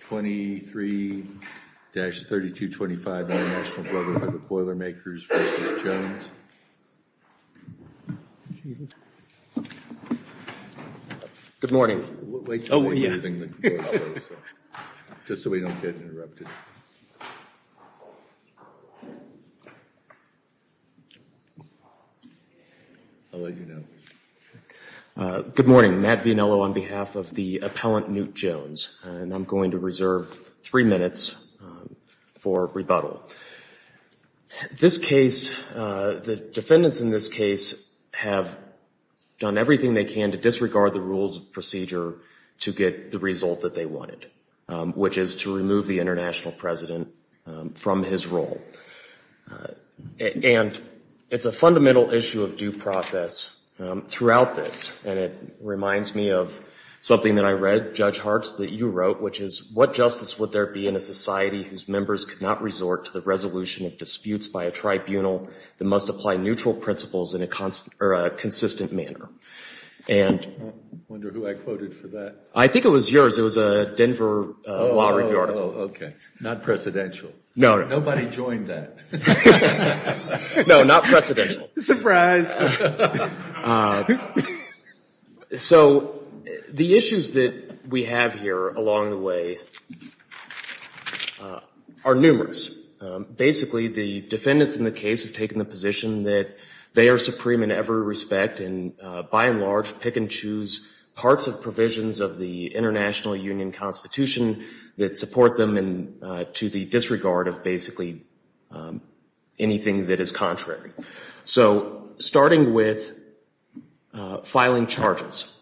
23-3225 International Brotherhood of Boilermakers v. Jones. Good morning. Oh, yeah. Just so we don't get interrupted. I'll let you know. Good morning. Matt Vianello on behalf of the appellant Newt Jones. And I'm going to reserve three minutes for rebuttal. This case, the defendants in this case have done everything they can to disregard the rules of procedure to get the result that they wanted, which is to remove the international president from his role. And it's a fundamental issue of due process throughout this. And it reminds me of something that I read, Judge Hartz, that you wrote, which is, what justice would there be in a society whose members could not resort to the resolution of disputes by a tribunal that must apply neutral principles in a consistent manner? I wonder who I quoted for that. I think it was yours. It was a Denver Law Review article. Oh, OK. Not presidential. No. Nobody joined that. No, not presidential. So the issues that we have here along the way are numerous. Basically, the defendants in the case have taken the position that they are supreme in every respect and, by and large, pick and choose parts of provisions of the International Union Constitution that support them to the disregard of basically anything that is contrary. So starting with filing charges,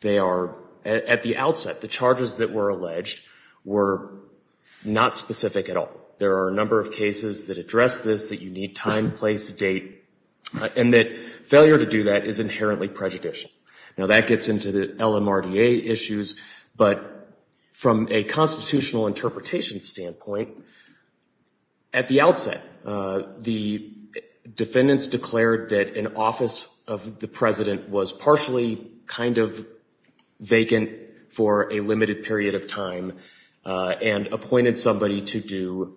they are, at the outset, the charges that were alleged were not specific at all. There are a number of cases that address this, that you need time, place, date, and that failure to do that is inherently prejudicial. Now, that gets into the LMRDA issues. But from a constitutional interpretation standpoint, at the outset, the defendants declared that an office of the president was partially kind of vacant for a limited period of time and appointed somebody to do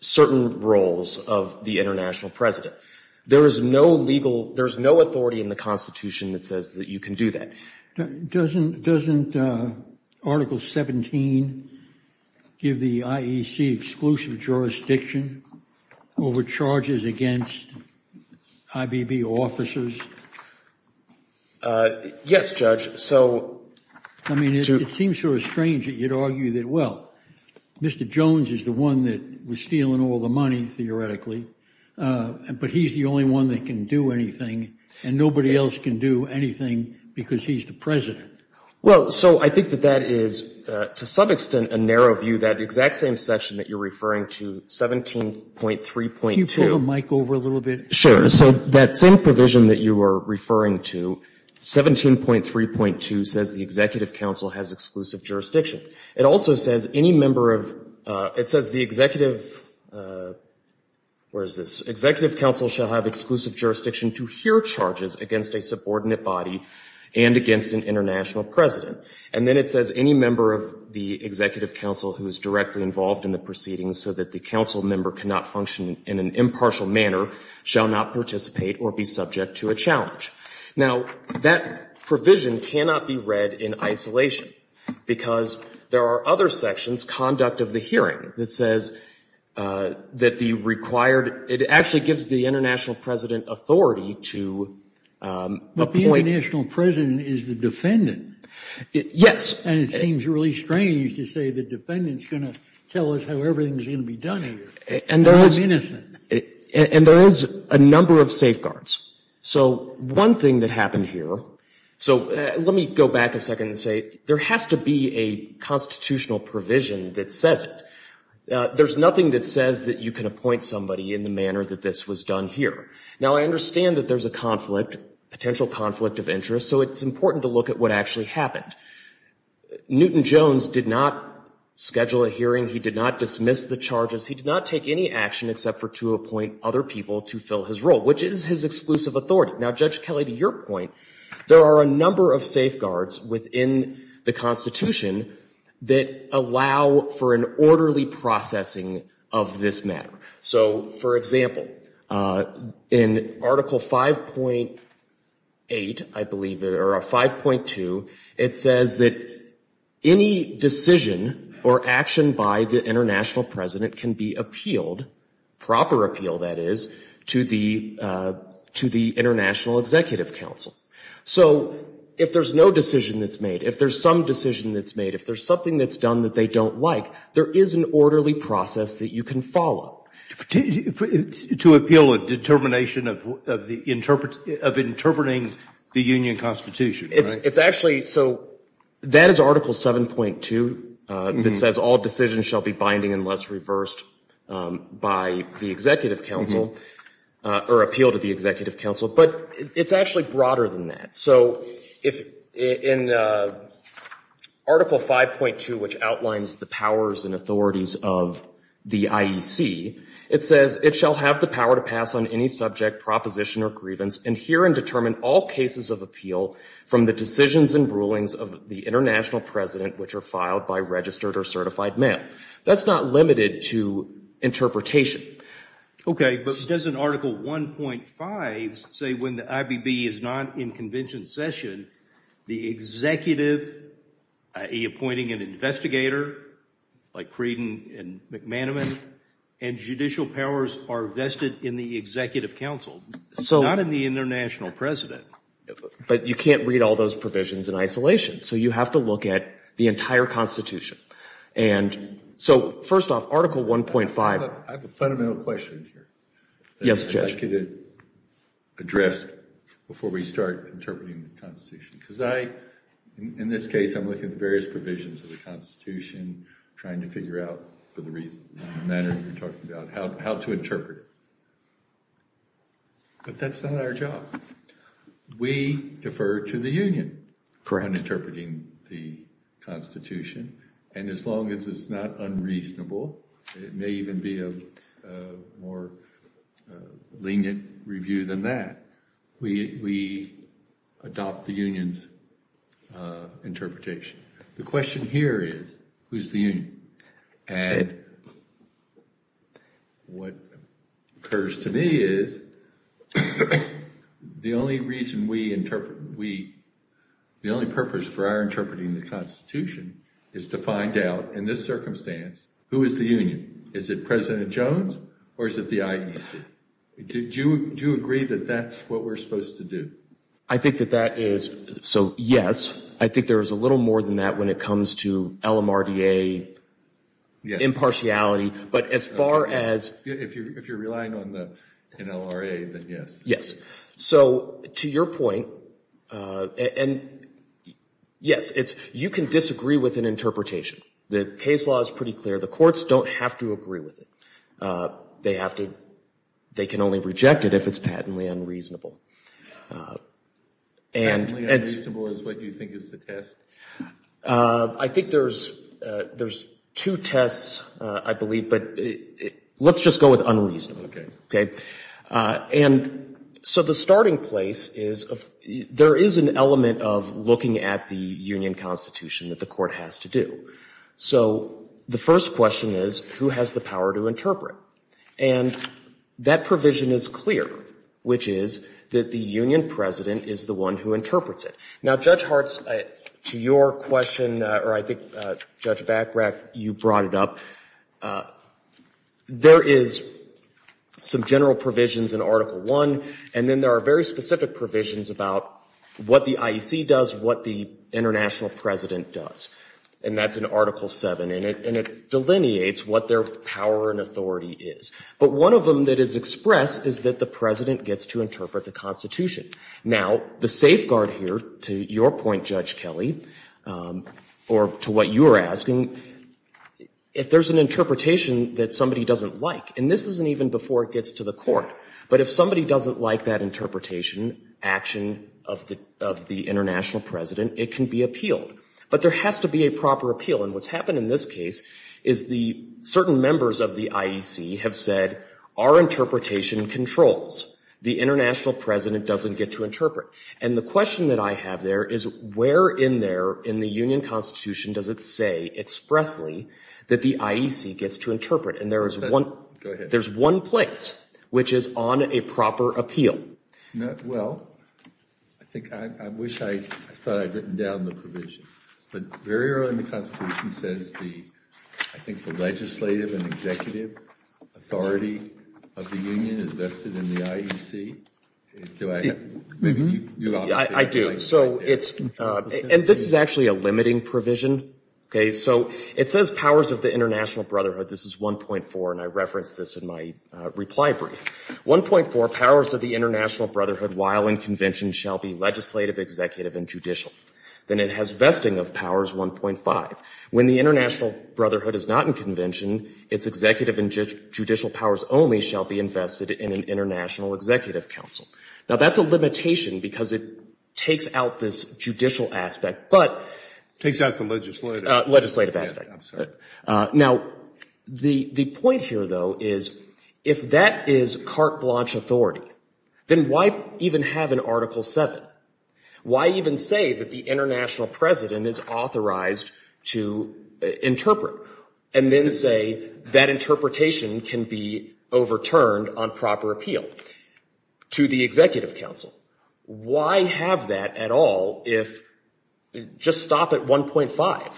certain roles of the international president. There is no authority in the Constitution that says that you can do that. Doesn't Article 17 give the IEC exclusive jurisdiction over charges against IBB officers? Yes, Judge. I mean, it seems sort of strange that you'd argue that, well, Mr. Jones is the one that was stealing all the money, theoretically, but he's the only one that can do anything, and nobody else can do anything because he's the president. Well, so I think that that is, to some extent, a narrow view, that exact same section that you're referring to, 17.3.2. Can you pull the mic over a little bit? Sure. So that same provision that you were referring to, 17.3.2, says the Executive Council has exclusive jurisdiction. It also says any member of, it says the Executive, where is this, Executive Council shall have exclusive jurisdiction to hear charges against a subordinate body and against an international president. And then it says any member of the Executive Council who is directly involved in the proceedings so that the council member cannot function in an impartial manner shall not participate or be subject to a challenge. Now, that provision cannot be read in isolation because there are other sections, conduct of the hearing, that says that the required, it actually gives the international president authority to appoint. But the international president is the defendant. Yes. And it seems really strange to say the defendant is going to tell us how everything is going to be done here. And there is. And there is a number of safeguards. So one thing that happened here, so let me go back a second and say there has to be a constitutional provision that says it. There's nothing that says that you can appoint somebody in the manner that this was done here. Now, I understand that there's a conflict, potential conflict of interest, so it's important to look at what actually happened. Newton Jones did not schedule a hearing. He did not dismiss the charges. He did not take any action except to appoint other people to fill his role, which is his exclusive authority. Now, Judge Kelley, to your point, there are a number of safeguards within the Constitution that allow for an orderly processing of this matter. So, for example, in Article 5.8, I believe, or 5.2, it says that any decision or action by the international president can be appealed, proper appeal, that is, to the International Executive Council. So if there's no decision that's made, if there's some decision that's made, if there's something that's done that they don't like, there is an orderly process that you can follow. To appeal a determination of interpreting the Union Constitution, right? It's actually, so that is Article 7.2 that says all decisions shall be binding unless reversed by the Executive Council, or appeal to the Executive Council, but it's actually broader than that. So in Article 5.2, which outlines the powers and authorities of the IEC, it says, it shall have the power to pass on any subject, proposition, or grievance, and hear and determine all cases of appeal from the decisions and rulings of the international president, which are filed by registered or certified mail. That's not limited to interpretation. Okay, but doesn't Article 1.5 say when the IBB is not in convention session, the executive, i.e. appointing an investigator, like Creeden and McManaman, and judicial powers are vested in the Executive Council. Not in the international president. But you can't read all those provisions in isolation, so you have to look at the entire Constitution. And so, first off, Article 1.5. I have a fundamental question here. Yes, Judge. That the Executive addressed before we start interpreting the Constitution. Because I, in this case, I'm looking at various provisions of the Constitution, trying to figure out, for the reason and manner you're talking about, how to interpret it. But that's not our job. We defer to the Union for interpreting the Constitution. And as long as it's not unreasonable, it may even be a more lenient review than that, we adopt the Union's interpretation. The question here is, who's the Union? And what occurs to me is, the only purpose for our interpreting the Constitution is to find out, in this circumstance, who is the Union. Is it President Jones, or is it the IEC? Do you agree that that's what we're supposed to do? I think that that is, so, yes. I think there is a little more than that when it comes to LMRDA impartiality. But as far as... If you're relying on the NLRA, then yes. Yes. So, to your point, and yes, you can disagree with an interpretation. The case law is pretty clear. The courts don't have to agree with it. They can only reject it if it's patently unreasonable. Patently unreasonable is what you think is the test? I think there's two tests, I believe, but let's just go with unreasonable. Okay. And so the starting place is, there is an element of looking at the Union Constitution that the court has to do. So, the first question is, who has the power to interpret? And that provision is clear, which is that the Union President is the one who interprets it. Now, Judge Hartz, to your question, or I think Judge Bachrach, you brought it up, there is some general provisions in Article I, and then there are very specific provisions about what the IEC does, what the International President does. And that's in Article VII, and it delineates what their power and authority is. But one of them that is expressed is that the President gets to interpret the Constitution. Now, the safeguard here, to your point, Judge Kelly, or to what you were asking, if there's an interpretation that somebody doesn't like, and this isn't even before it gets to the court, but if somebody doesn't like that interpretation, action of the International President, it can be appealed. But there has to be a proper appeal. And what's happened in this case is the certain members of the IEC have said, our interpretation controls. The International President doesn't get to interpret. And the question that I have there is, where in there in the Union Constitution does it say expressly that the IEC gets to interpret? And there is one place which is on a proper appeal. Well, I think, I wish I thought I'd written down the provision. But very early in the Constitution says the, I think the legislative and executive authority of the Union is vested in the IEC. Do I have, maybe you've already said that. I do. So it's, and this is actually a limiting provision. Okay, so it says powers of the International Brotherhood. This is 1.4, and I referenced this in my reply brief. 1.4, powers of the International Brotherhood while in convention shall be legislative, executive, and judicial. Then it has vesting of powers 1.5. When the International Brotherhood is not in convention, its executive and judicial powers only shall be invested in an international executive council. Now, that's a limitation because it takes out this judicial aspect, but. Takes out the legislative. Legislative aspect. I'm sorry. Now, the point here, though, is if that is carte blanche authority, then why even have an Article 7? Why even say that the international president is authorized to interpret? And then say that interpretation can be overturned on proper appeal to the executive council? Why have that at all if, just stop at 1.5?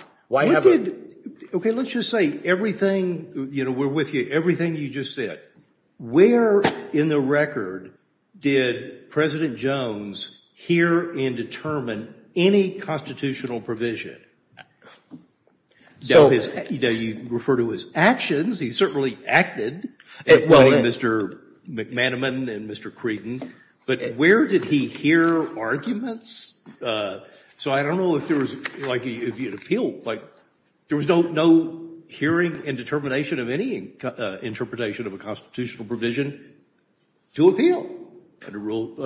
Okay, let's just say everything, you know, we're with you. Everything you just said. Where in the record did President Jones hear and determine any constitutional provision? You know, you refer to his actions. He certainly acted. Mr. McManaman and Mr. Creighton, but where did he hear arguments? So I don't know if there was, like, if he had appealed, like, there was no hearing and determination of any interpretation of a constitutional provision to appeal under Rule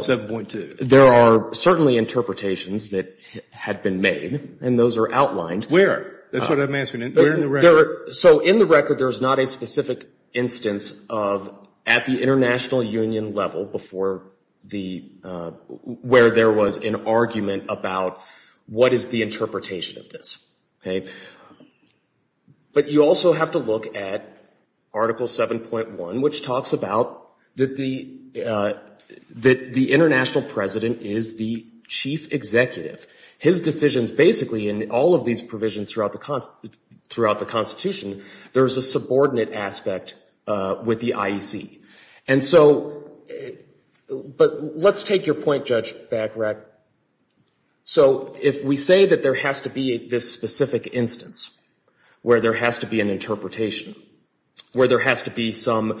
7.2. There are certainly interpretations that had been made, and those are outlined. Where? That's what I'm asking. Where in the record? So in the record, there is not a specific instance of at the international union level before the, where there was an argument about what is the interpretation of this, okay? But you also have to look at Article 7.1, which talks about that the international president is the chief executive. His decisions, basically, in all of these provisions throughout the Constitution, there's a subordinate aspect with the IEC. And so, but let's take your point, Judge Bagrat. So if we say that there has to be this specific instance where there has to be an interpretation, where there has to be some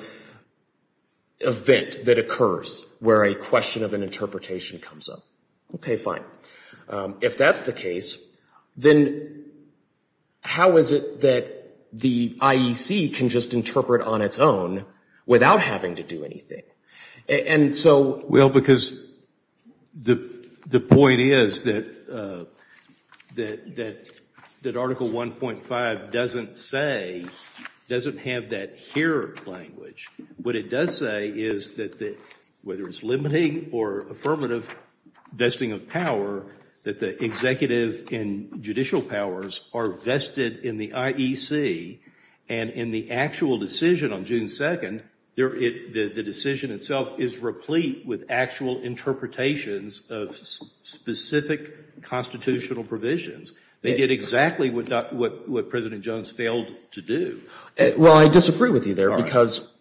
event that occurs where a question of an interpretation comes up, okay, fine. If that's the case, then how is it that the IEC can just interpret on its own without having to do anything? And so. Well, because the point is that Article 1.5 doesn't say, doesn't have that here language. What it does say is that whether it's limiting or affirmative vesting of power, that the executive and judicial powers are vested in the IEC, and in the actual decision on June 2nd, the decision itself is replete with actual interpretations of specific constitutional provisions. They did exactly what President Jones failed to do. Well, I disagree with you there because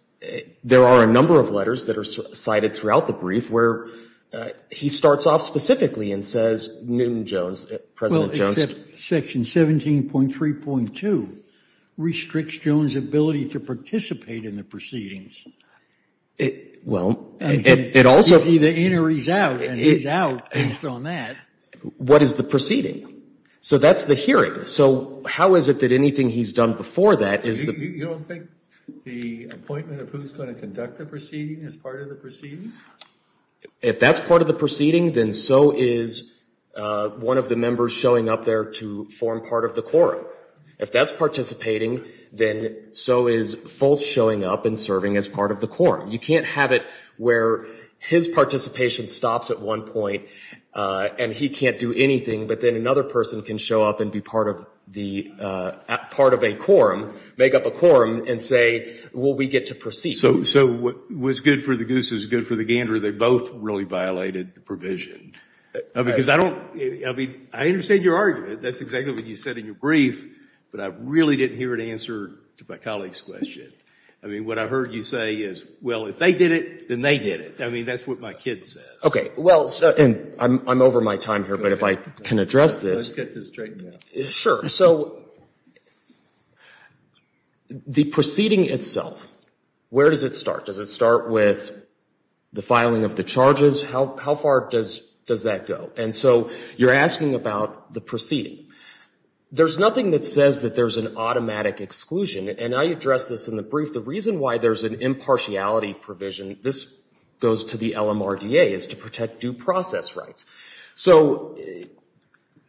there are a number of letters that are cited throughout the brief where he starts off specifically and says Newton Jones, President Jones. Except Section 17.3.2 restricts Jones' ability to participate in the proceedings. Well, it also. It's either in or he's out, and he's out based on that. What is the proceeding? So that's the hearing. So how is it that anything he's done before that is the. You don't think the appointment of who's going to conduct the proceeding is part of the proceeding? If that's part of the proceeding, then so is one of the members showing up there to form part of the quorum. If that's participating, then so is Fultz showing up and serving as part of the quorum. You can't have it where his participation stops at one point and he can't do anything, but then another person can show up and be part of a quorum, make up a quorum, and say, well, we get to proceed. So what's good for the goose is good for the gander. They both really violated the provision. Because I don't. I mean, I understand your argument. That's exactly what you said in your brief, but I really didn't hear it answered to my colleague's question. I mean, what I heard you say is, well, if they did it, then they did it. I mean, that's what my kid says. Well, and I'm over my time here, but if I can address this. Let's get this straightened out. Sure. So the proceeding itself, where does it start? Does it start with the filing of the charges? How far does that go? And so you're asking about the proceeding. There's nothing that says that there's an automatic exclusion, and I addressed this in the brief. The reason why there's an impartiality provision, this goes to the LMRDA, is to protect due process rights. So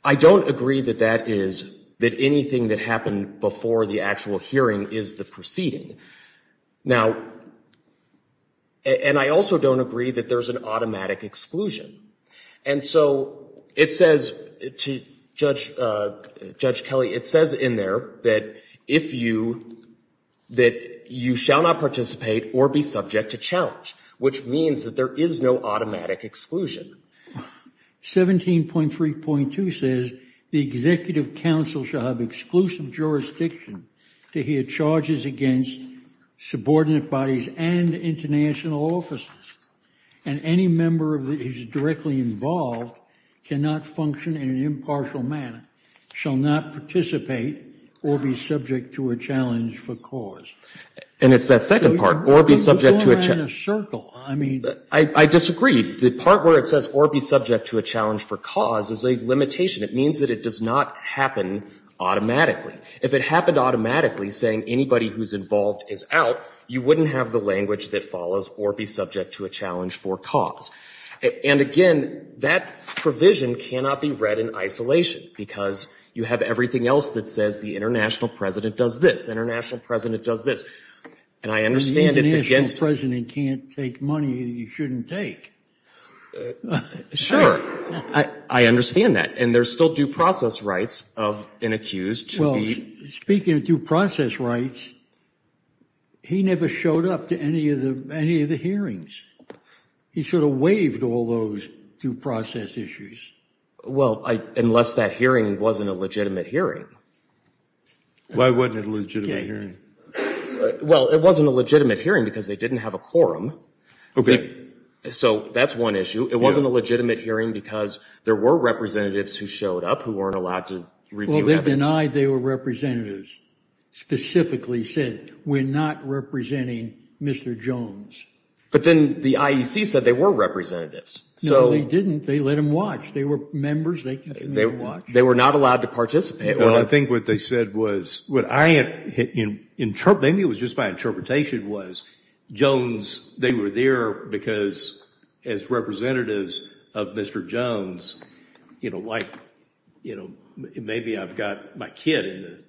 I don't agree that that is, that anything that happened before the actual hearing is the proceeding. Now, and I also don't agree that there's an automatic exclusion. And so it says, Judge Kelly, it says in there that if you, that you shall not participate or be subject to challenge, which means that there is no automatic exclusion. 17.3.2 says the Executive Council shall have exclusive jurisdiction to hear charges against subordinate bodies and international offices, and any member that is directly involved cannot function in an impartial manner, shall not participate or be subject to a challenge for cause. And it's that second part, or be subject to a challenge. We're going around in a circle. I mean, I disagree. The part where it says or be subject to a challenge for cause is a limitation. It means that it does not happen automatically. If it happened automatically, saying anybody who's involved is out, you wouldn't have the language that follows or be subject to a challenge for cause. And again, that provision cannot be read in isolation, because you have everything else that says the International President does this, the International President does this. And I understand it's against... But the International President can't take money that he shouldn't take. Sure. I understand that. And there's still due process rights of an accused to be... Well, speaking of due process rights, he never showed up to any of the hearings. He sort of waived all those due process issues. Well, unless that hearing wasn't a legitimate hearing. Why wasn't it a legitimate hearing? Well, it wasn't a legitimate hearing because they didn't have a quorum. So that's one issue. It wasn't a legitimate hearing because there were representatives who showed up who weren't allowed to review evidence. Well, they denied they were representatives. Specifically said, we're not representing Mr. Jones. But then the IEC said they were representatives. No, they didn't. They let them watch. They were members. They let them watch. They were not allowed to participate. Well, I think what they said was... Maybe it was just my interpretation was, Jones, they were there because as representatives of Mr. Jones, maybe I've got my kid in the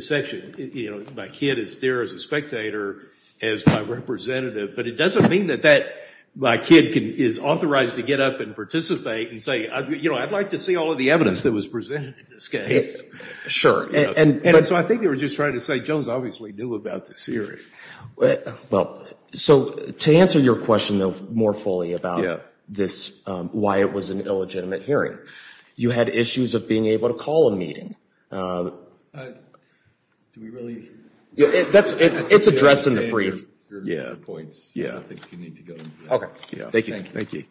section. My kid is there as a spectator, as my representative. But it doesn't mean that my kid is authorized to get up and participate and say, I'd like to see all of the evidence that was presented in this case. Sure. And so I think they were just trying to say, Jones obviously knew about this hearing. Well, so to answer your question more fully about this, why it was an illegitimate hearing, you had issues of being able to call a meeting. Do we really? It's addressed in the brief. Yeah. I think you need to go. Okay. Thank you. Thank you.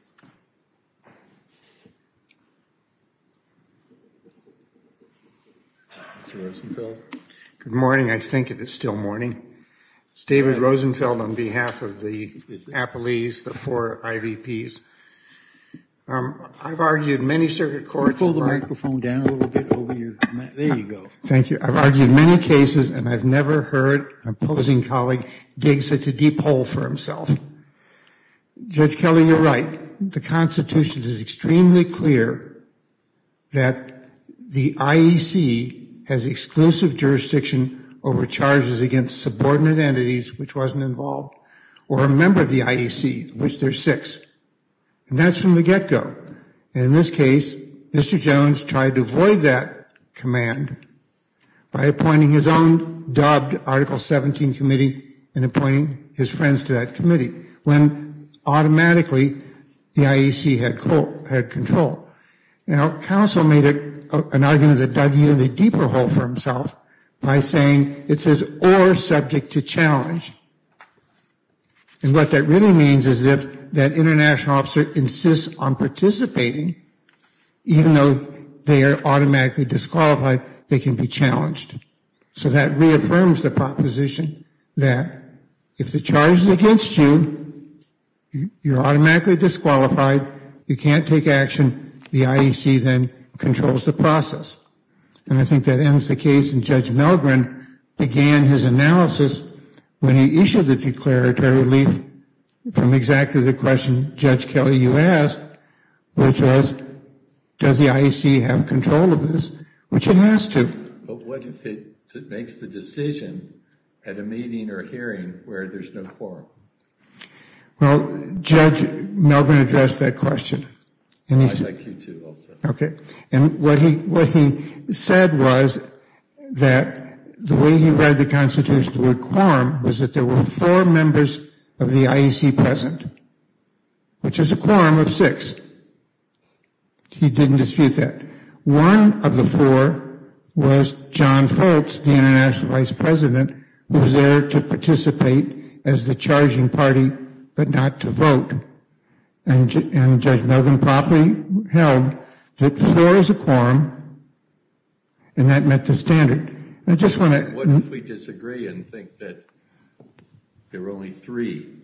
Mr. Rosenfeld. Good morning. I think it is still morning. It's David Rosenfeld on behalf of the Appalese, the four IVPs. I've argued many circuit courts... Pull the microphone down a little bit over your... There you go. Thank you. I've argued many cases, and I've never heard an opposing colleague dig such a deep hole for himself. Judge Kelly, you're right. The Constitution is extremely clear that the IEC has exclusive jurisdiction over charges against subordinate entities, which wasn't involved, or a member of the IEC, of which there's six. And that's from the get-go. And in this case, Mr. Jones tried to avoid that command by appointing his own dubbed Article 17 committee and appointing his friends to that committee, when automatically the IEC had control. Now, counsel made an argument that dug even a deeper hole for himself by saying it says, or subject to challenge. And what that really means is if that international officer insists on participating, even though they are automatically disqualified, they can be challenged. So that reaffirms the proposition that if the charge is against you, you're automatically disqualified. You can't take action. The IEC then controls the process. And I think that ends the case. And Judge Milgren began his analysis when he issued the declaratory relief from exactly the question Judge Kelly, you asked, which was, does the IEC have control of this? Which it has to. But what if it makes the decision at a meeting or a hearing where there's no quorum? Well, Judge Milgren addressed that question. I'd like you to also. Okay. And what he said was that the way he read the Constitution, the word quorum, was that there were four members of the IEC present, which is a quorum of six. He didn't dispute that. One of the four was John Foltz, the international vice president, who was there to participate as the charging party, but not to vote. And Judge Milgren probably held that four is a quorum, and that met the standard. I just want to. What if we disagree and think that there were only three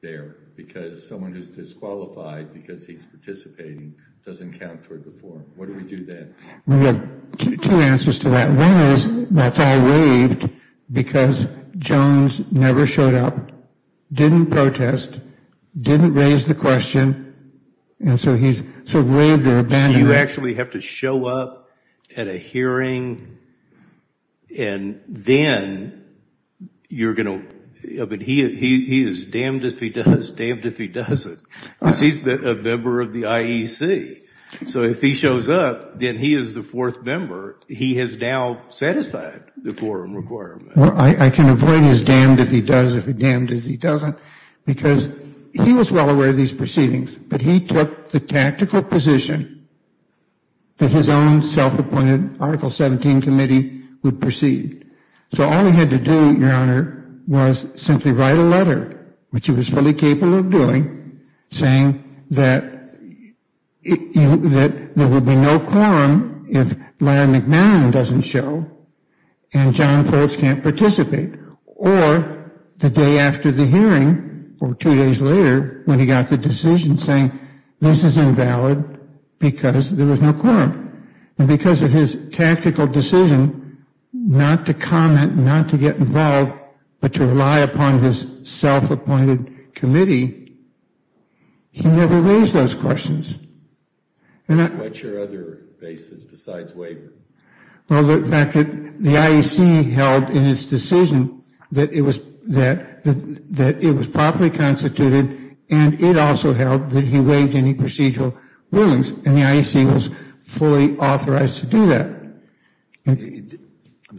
there because someone who's disqualified because he's participating doesn't count toward the four? What do we do then? We have two answers to that. One is that's all waived because Jones never showed up, didn't protest, didn't raise the question, and so he's sort of waived or abandoned. You actually have to show up at a hearing, and then you're going to. But he is damned if he does, damned if he doesn't. Because he's a member of the IEC. So if he shows up, then he is the fourth member. He has now satisfied the quorum requirement. Well, I can avoid he's damned if he does, damned if he doesn't, because he was well aware of these proceedings, but he took the tactical position that his own self-appointed Article 17 committee would proceed. So all he had to do, Your Honor, was simply write a letter, which he was fully capable of doing, saying that there would be no quorum if Larry McMillan doesn't show and John Forbes can't participate. Or the day after the hearing or two days later when he got the decision saying this is invalid because there was no quorum. And because of his tactical decision not to comment, not to get involved, but to rely upon his self-appointed committee, he never raised those questions. What's your other basis besides waiver? Well, the fact that the IEC held in its decision that it was properly constituted, and it also held that he waived any procedural rulings, and the IEC was fully authorized to do that. I'm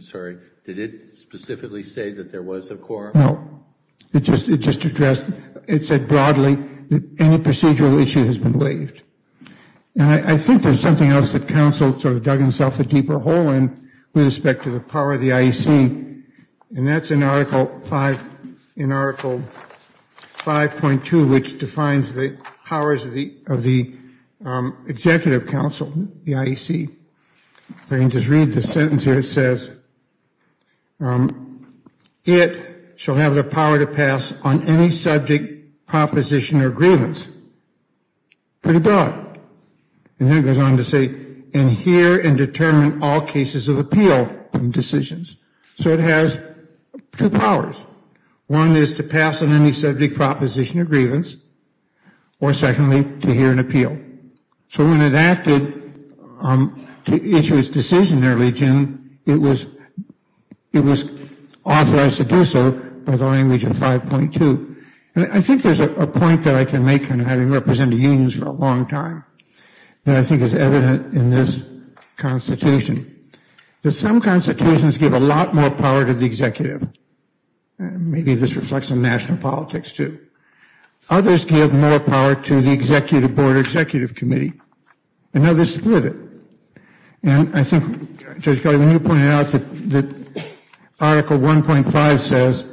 sorry, did it specifically say that there was a quorum? No, it just addressed, it said broadly that any procedural issue has been waived. And I think there's something else that counsel sort of dug himself a deeper hole in with respect to the power of the IEC, and that's in Article 5.2, which defines the powers of the Executive Council, the IEC. If I can just read the sentence here, it says, it shall have the power to pass on any subject, proposition, or grievance. Pretty broad. And then it goes on to say, and hear and determine all cases of appeal decisions. So it has two powers. One is to pass on any subject, proposition, or grievance, or secondly, to hear and appeal. So when it acted to issue its decision early, Jim, it was authorized to do so by the language of 5.2. And I think there's a point that I can make kind of having represented unions for a long time that I think is evident in this constitution, that some constitutions give a lot more power to the executive. Maybe this reflects some national politics too. Others give more power to the executive board than the executive committee. And others split it. And I think, Judge Kelly, when you pointed out that Article 1.5 says,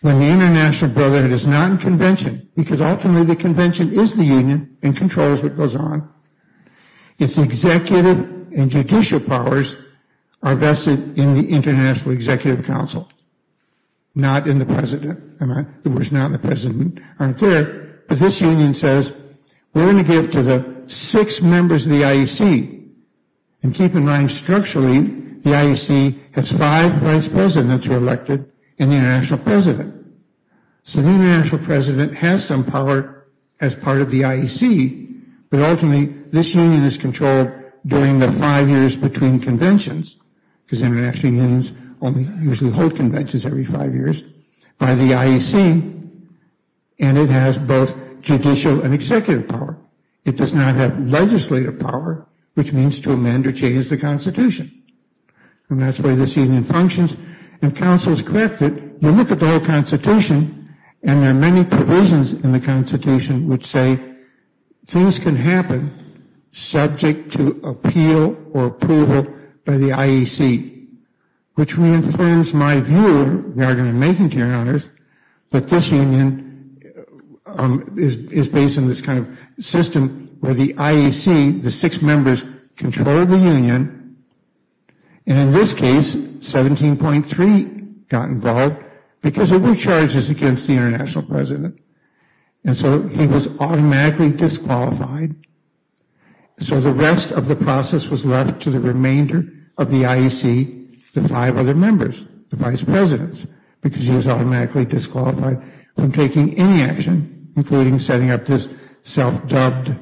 when the international brotherhood is not in convention, because ultimately the convention is the union and controls what goes on, its executive and judicial powers are vested in the International Executive Council, not in the president. In other words, not in the president. They aren't there. But this union says, we're going to give to the six members of the IEC. And keep in mind, structurally, the IEC has five vice presidents who are elected and the international president. So the international president has some power as part of the IEC, but ultimately this union is controlled during the five years between conventions, because international unions usually hold conventions every five years, by the IEC. And it has both judicial and executive power. It does not have legislative power, which means to amend or change the Constitution. And that's the way this union functions. If counsel is corrected, you look at the whole Constitution and there are many provisions in the Constitution which say things can happen subject to appeal or approval by the IEC, which reaffirms my view, and I'm going to make it to your honors, but this union is based on this kind of system where the IEC, the six members, control the union, and in this case, 17.3 got involved because there were charges against the international president. And so he was automatically disqualified. So the rest of the process was left to the remainder of the IEC, the five other members, the vice presidents, because he was automatically disqualified from taking any action, including setting up this self-dubbed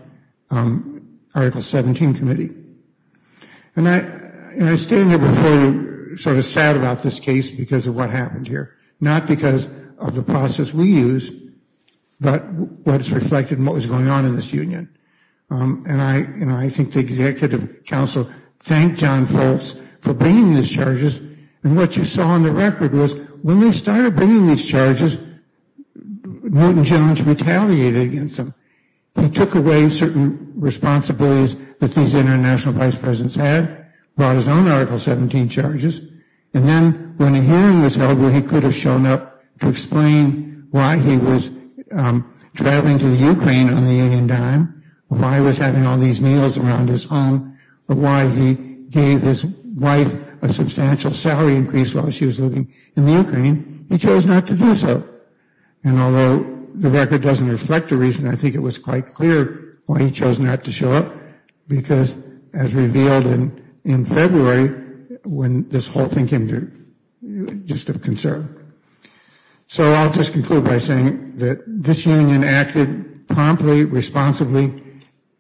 Article 17 committee. And I stand here before you sort of sad about this case because of what happened here, not because of the process we used, but what is reflected in what was going on in this union. And I think the executive counsel thanked John Foltz for bringing these charges, and what you saw on the record was that when they started bringing these charges, Milton Jones retaliated against them. He took away certain responsibilities that these international vice presidents had, brought his own Article 17 charges, and then when a hearing was held where he could have shown up to explain why he was traveling to Ukraine on the union dime, why he was having all these meals around his home, why he gave his wife a substantial salary increase while she was living in the Ukraine, he chose not to do so. And although the record doesn't reflect the reason, I think it was quite clear why he chose not to show up, because as revealed in February, when this whole thing came to just a concern. So I'll just conclude by saying that this union acted promptly, responsibly.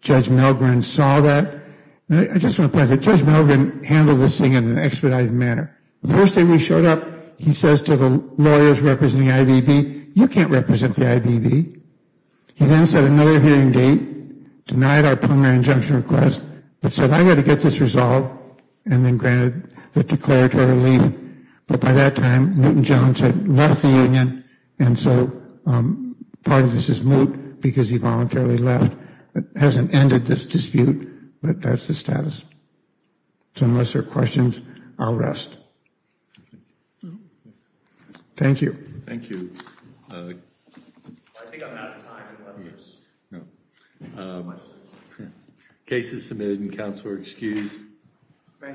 Judge Milgren saw that. I just want to point out that Judge Milgren handled this thing in an expedited manner. The first day we showed up, he says to the lawyers representing the IBB, you can't represent the IBB. He then set another hearing date, denied our primary injunction request, but said I got to get this resolved, and then granted the declaratory leave. But by that time, Milton Jones had left the union, and so part of this is moot because he voluntarily left. It hasn't ended this dispute, but that's the status. So unless there are questions, I'll rest. Thank you. Thank you. I think I'm out of time unless there's questions. No. Cases submitted and counsel are excused. Thank you.